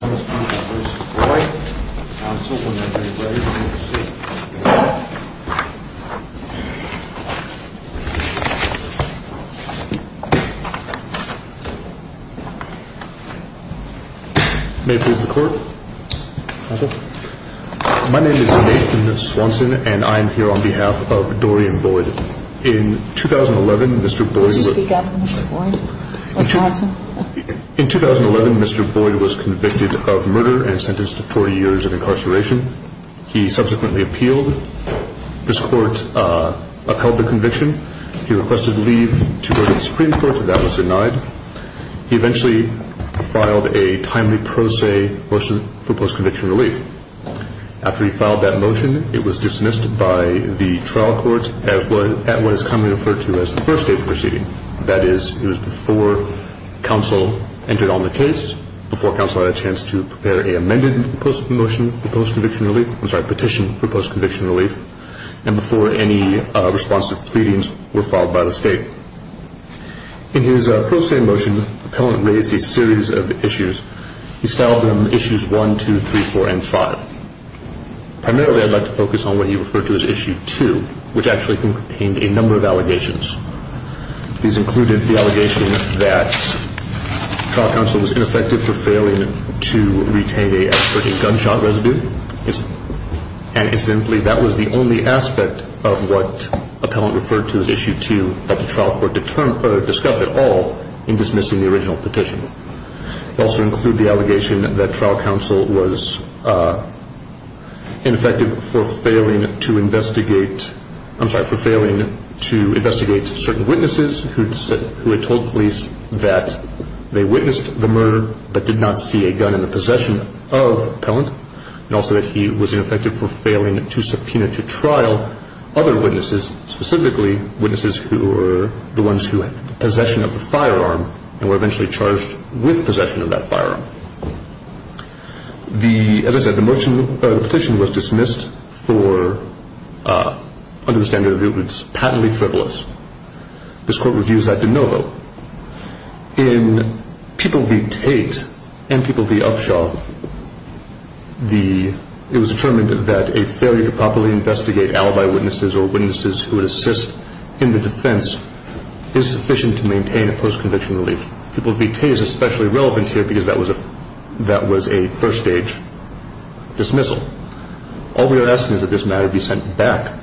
My name is Nathan Swanson and I am here on behalf of Dorian Boyd. In 2011, Mr. Boyd was convicted of murder and sentenced to 40 years of incarceration. He subsequently appealed. This court upheld the conviction. He requested leave to go to the Supreme Court. That was denied. He eventually filed a timely pro se motion for post-conviction relief. After he filed that motion, it was dismissed by the trial court at what is commonly referred to as the first stage proceeding. That is, it was before counsel entered on the case, before counsel had a chance to prepare a petition for post-conviction relief, and before any responsive pleadings were filed by the state. In his pro se motion, the appellant raised a series of issues. He styled them Issues 1, 2, 3, 4, and 5. Primarily, I'd like to These included the allegation that trial counsel was ineffective for failing to retain a gunshot residue. That was the only aspect of what the appellant referred to as Issue 2 that the trial court discussed at all in dismissing the original petition. It also included the certain witnesses who had told police that they witnessed the murder but did not see a gun in the possession of the appellant, and also that he was ineffective for failing to subpoena to trial other witnesses, specifically witnesses who were the ones who had possession of the firearm and were eventually charged with possession of that firearm. As I said, the petition was dismissed for, under the standard of patently frivolous. This court reviews that de novo. In People v. Tate and People v. Upshaw, it was determined that a failure to properly investigate alibi witnesses or witnesses who would assist in the defense is sufficient to maintain a post-conviction relief. People v. Tate is especially relevant here because that was a first-stage dismissal. All we are asking is that this matter be sent back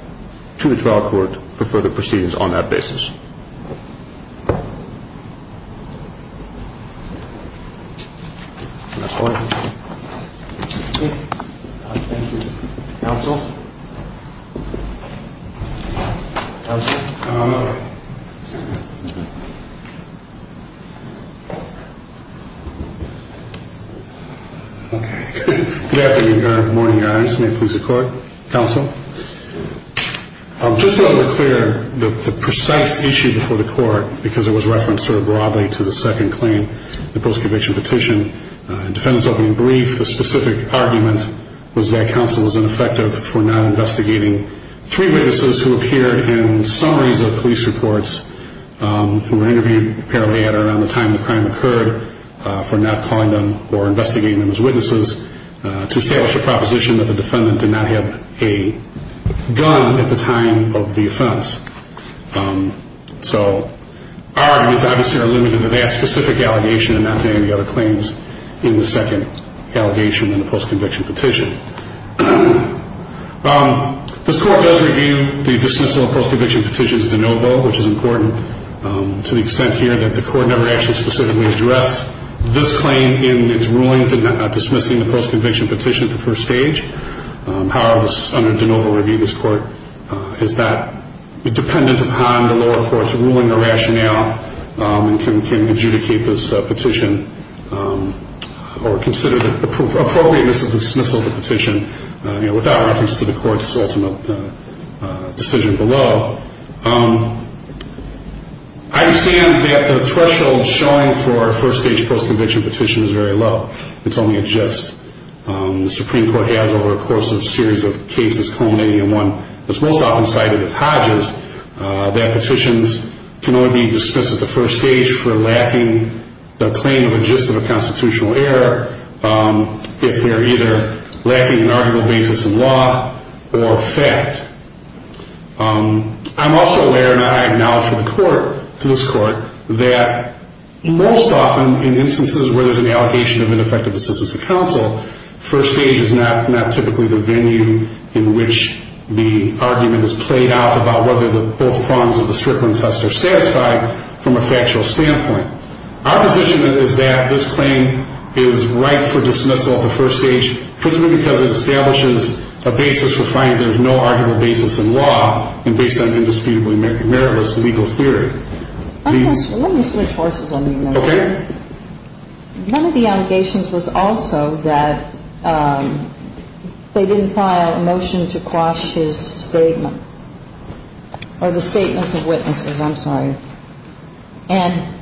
to the trial court for further proceedings on that basis. Good afternoon, good morning, your honors. May it please the court, counsel. Just to be clear, the precise issue before the court, because it was referenced sort of broadly to the second claim, the post-conviction petition, the defendant's opening brief, the specific argument was that counsel was ineffective for not investigating three witnesses who appear in summaries of police reports who were interviewed apparently at or around the time the crime occurred, for not calling them or investigating them as witnesses, to establish a proposition that the defendant did not have a gun at the time of the offense. So our arguments, obviously, are limited to that specific allegation and not to any other claims in the second allegation in the post-conviction petition. This court does review the dismissal of post-conviction petitions de novo, which is important to the extent here that the court never actually specifically addressed this claim in its ruling dismissing the post-conviction petition at the first stage. However, under de novo review, this court is not dependent upon the lower court's ruling or rationale and can adjudicate this petition or consider the appropriateness of the dismissal of the petition without reference to the court's ultimate decision below. I understand that the threshold showing for a first-stage post-conviction petition is very low. It's only a gist. The Supreme Court has, over a course of a series of cases culminating in one that's most often cited at Hodges, that petitions can only be dismissed at the first stage for lacking the claim of a gist of a constitutional error if they're either lacking an arguable basis in law or fact. I'm also aware, and I acknowledge to the court, to this court, that most often in instances where there's an allocation of ineffective assistance to counsel, first stage is not typically the venue in which the argument is played out about whether both prongs of the Strickland test are satisfied from a factual standpoint. Our position is that this claim is ripe for dismissal at the first stage particularly because it establishes a basis for finding there's no arguable basis in law and based on indisputably meritless legal theory. Let me switch horses on you, Mr. Chairman. Okay. One of the allegations was also that they didn't file a motion to quash his statement or the statements of witnesses. I'm sorry. And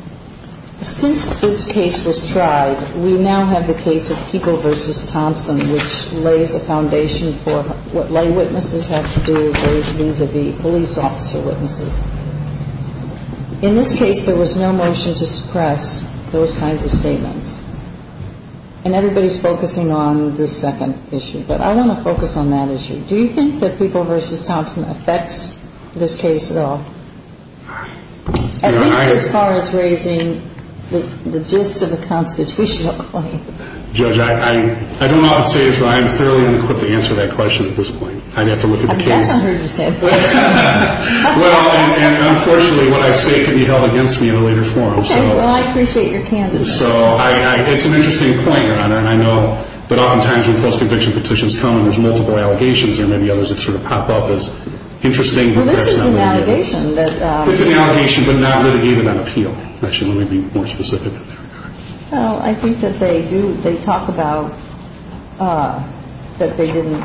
since this case was tried, we now have the case of People v. Thompson, which lays a foundation for what lay witnesses have to do vis-a-vis police officer witnesses. In this case, there was no motion to suppress those kinds of statements. And everybody's focusing on this second issue. But I want to focus on that issue. Do you think that People v. Thompson affects this case at all? All right. At least as far as raising the gist of a constitutional claim. Judge, I don't know how to say this, but I am thoroughly unequipped to answer that question at this point. I'd have to look at the case. I've definitely heard you say it before. Well, and unfortunately, what I say can be held against me in a later forum. Okay. Well, I appreciate your candidness. So it's an interesting point, Your Honor, and I know that oftentimes when post-conviction petitions come and there's multiple allegations, there may be others that sort of pop up as interesting. Well, this is an allegation that It's an allegation, but not litigated on appeal. Actually, let me be more specific. Well, I think that they do, they talk about that they didn't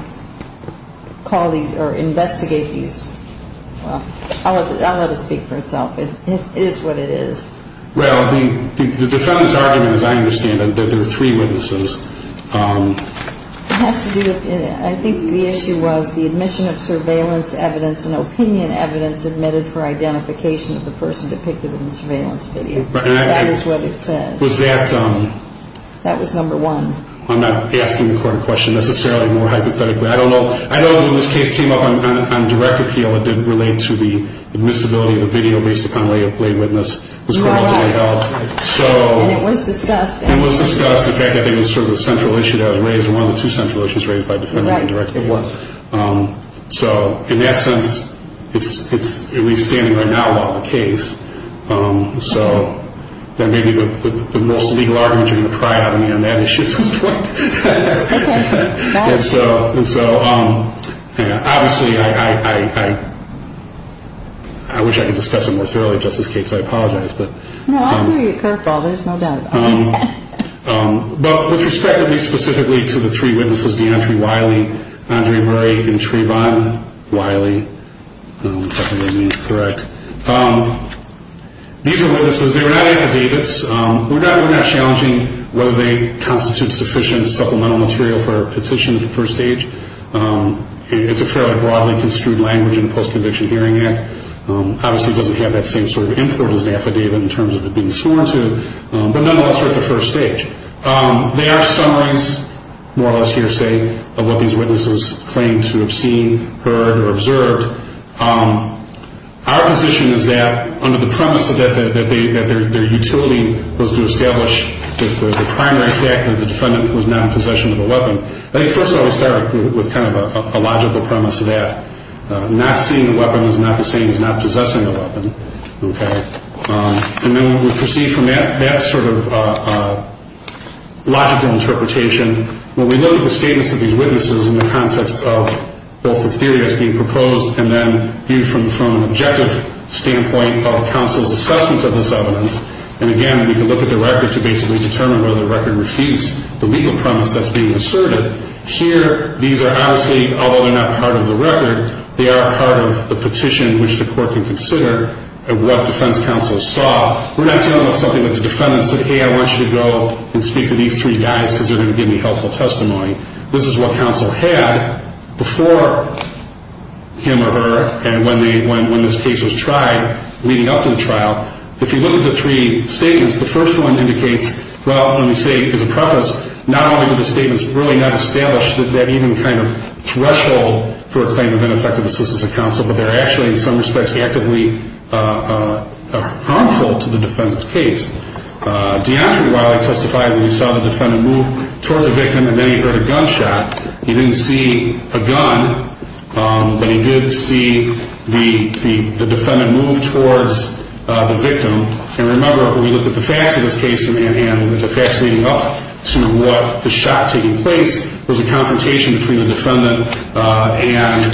call these or investigate these. Well, I'll let it speak for itself. It is what it is. Well, the defendant's argument, as I understand it, that there are three witnesses. It has to do with, I think the issue was the admission of surveillance evidence and opinion evidence admitted for identification of the person depicted in the surveillance video. That is what it says. Was that That was number one. I'm not asking the court a question necessarily, more hypothetically. I don't know when this case came up on direct appeal, it didn't relate to the admissibility of a video based upon lay witness. You are right. So And it was discussed. And it was discussed, the fact that it was sort of a central issue that was raised, one of the two central issues raised by defendant on direct appeal. Right, it was. So, in that sense, it's at least standing right now a lot of the case. So, that may be the most legal argument you're going to pry out of me on that issue at this point. Okay. And so, obviously, I wish I could discuss it more thoroughly, Justice Cates, I apologize. No, I'm going to get curveball, there's no doubt about it. But with respect to me specifically to the three witnesses, Deontre Wiley, Andre Murray, and Trevon Wiley, if I remember correctly, these are witnesses, they were not affidavits. We're not challenging whether they constitute sufficient supplemental material for a petition at the first stage. It's a fairly broadly construed language in the Post-Conviction Hearing Act. Obviously, it doesn't have that same sort of import as an affidavit in terms of it being sworn to. But nonetheless, we're at the first stage. They are summaries, more or less hearsay, of what these witnesses claim to have seen, heard, or observed. Our position is that, under the premise that their utility was to establish the primary fact that the defendant was not in possession of a weapon, I think first I would start with kind of a logical premise of that. Not seeing a weapon is not the same as not possessing a weapon. And then we proceed from that sort of logical interpretation. When we look at the statements of these witnesses in the context of both the theory that's being proposed and then viewed from an objective standpoint of counsel's assessment of this evidence, and again, we can look at the record to basically determine whether the record refutes the legal premise that's being asserted. Here, these are obviously, although they're not part of the record, they are part of the petition which the court can consider of what defense counsel saw. We're not dealing with something that the defendant said, hey, I want you to go and speak to these three guys because they're going to give me helpful testimony. This is what counsel had before him or her and when this case was tried leading up to the trial. If you look at the three statements, the first one indicates, well, let me say as a preface, not only do the statements really not establish that even kind of threshold for a claim of ineffective assistance of counsel, but they're actually in some respects actively harmful to the defendant's case. Deandre Wiley testifies that he saw the defendant move towards the victim and then he heard a gunshot. He didn't see a gun, but he did see the defendant move towards the victim. And remember, when we looked at the facts of this case in Manhattan, the facts leading up to what the shot taking place was a confrontation between the defendant and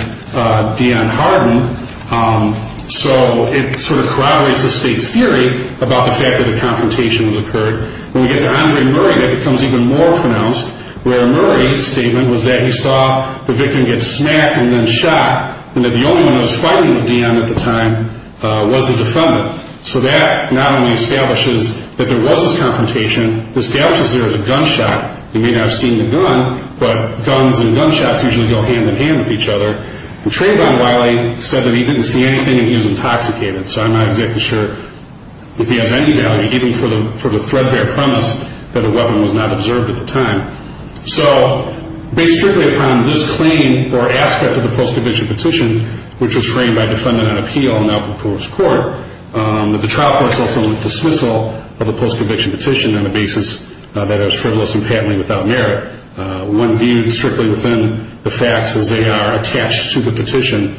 Deandre Harden. So it sort of corroborates the state's theory about the fact that a confrontation has occurred. When we get to Andre Murray, that becomes even more pronounced. Where Murray's statement was that he saw the victim get smacked and then shot, and that the only one that was fighting with Deandre at the time was the defendant. So that not only establishes that there was this confrontation, it establishes there was a gunshot. He may not have seen the gun, but guns and gunshots usually go hand in hand with each other. And Trayvon Wiley said that he didn't see anything and he was intoxicated. So I'm not exactly sure if he has any value, even for the threadbare premise that a weapon was not observed at the time. So based strictly upon this claim or aspect of the post-conviction petition, which was framed by a defendant on appeal and now proposed to court, the trial court also went to dismissal of the post-conviction petition on the basis that it was frivolous and patently without merit. When viewed strictly within the facts as they are attached to the petition,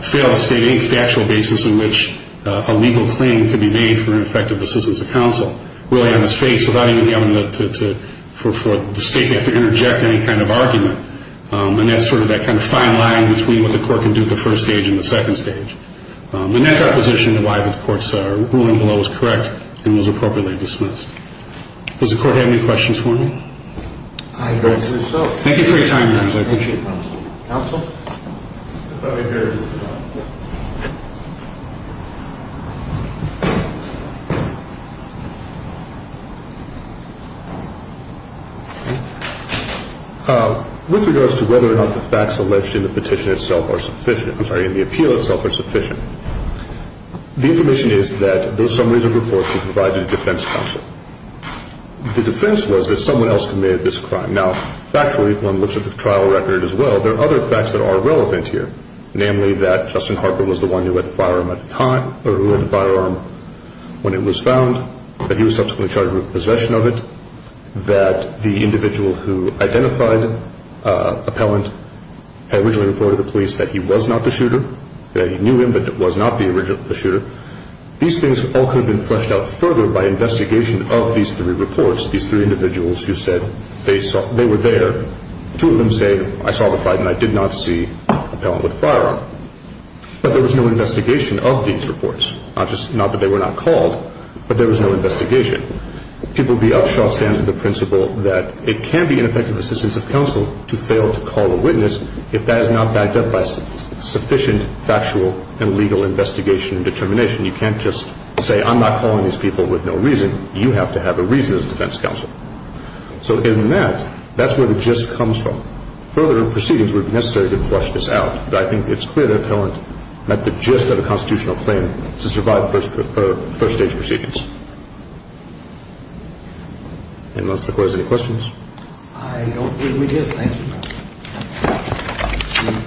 failed to state any factual basis in which a legal claim could be made for ineffective assistance of counsel. Really, it was faked without even having to, for the state to have to interject any kind of argument. And that's sort of that kind of fine line between what the court can do at the first stage and the second stage. And that's our position as to why the court's ruling below is correct and was appropriately dismissed. Does the court have any questions for me? Thank you for your time, Your Honor. I appreciate it. Counsel? With regards to whether or not the facts alleged in the petition itself are sufficient, I'm sorry, in the appeal itself are sufficient, the information is that those summaries of reports were provided to defense counsel. The defense was that someone else committed this crime. Now, factually, if one looks at the trial record as well, there are other facts that are relevant here, namely that Justin Harper was the one who had the firearm at the time or who had the firearm when it was found, that he was subsequently charged with possession of it, that the individual who identified Appellant had originally reported to the police that he was not the shooter, that he knew him but was not the original shooter. These things all could have been fleshed out further by investigation of these three reports, these three individuals who said they were there. Two of them say, I saw the fight and I did not see Appellant with a firearm. But there was no investigation of these reports. Not that they were not called, but there was no investigation. People be upshot stands with the principle that it can be ineffective assistance of counsel to fail to call a witness if that is not backed up by sufficient factual and legal investigation and determination. You can't just say I'm not calling these people with no reason. You have to have a reason as a defense counsel. So in that, that's where the gist comes from. Further proceedings would be necessary to flesh this out. But I think it's clear that Appellant met the gist of a constitutional claim to survive first-stage proceedings. And unless the court has any questions? I don't believe we do. Thank you.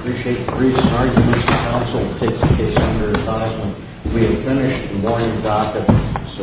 We appreciate the brief start, Mr. Counsel. We'll take the case under its eyes when we have finished the morning docket.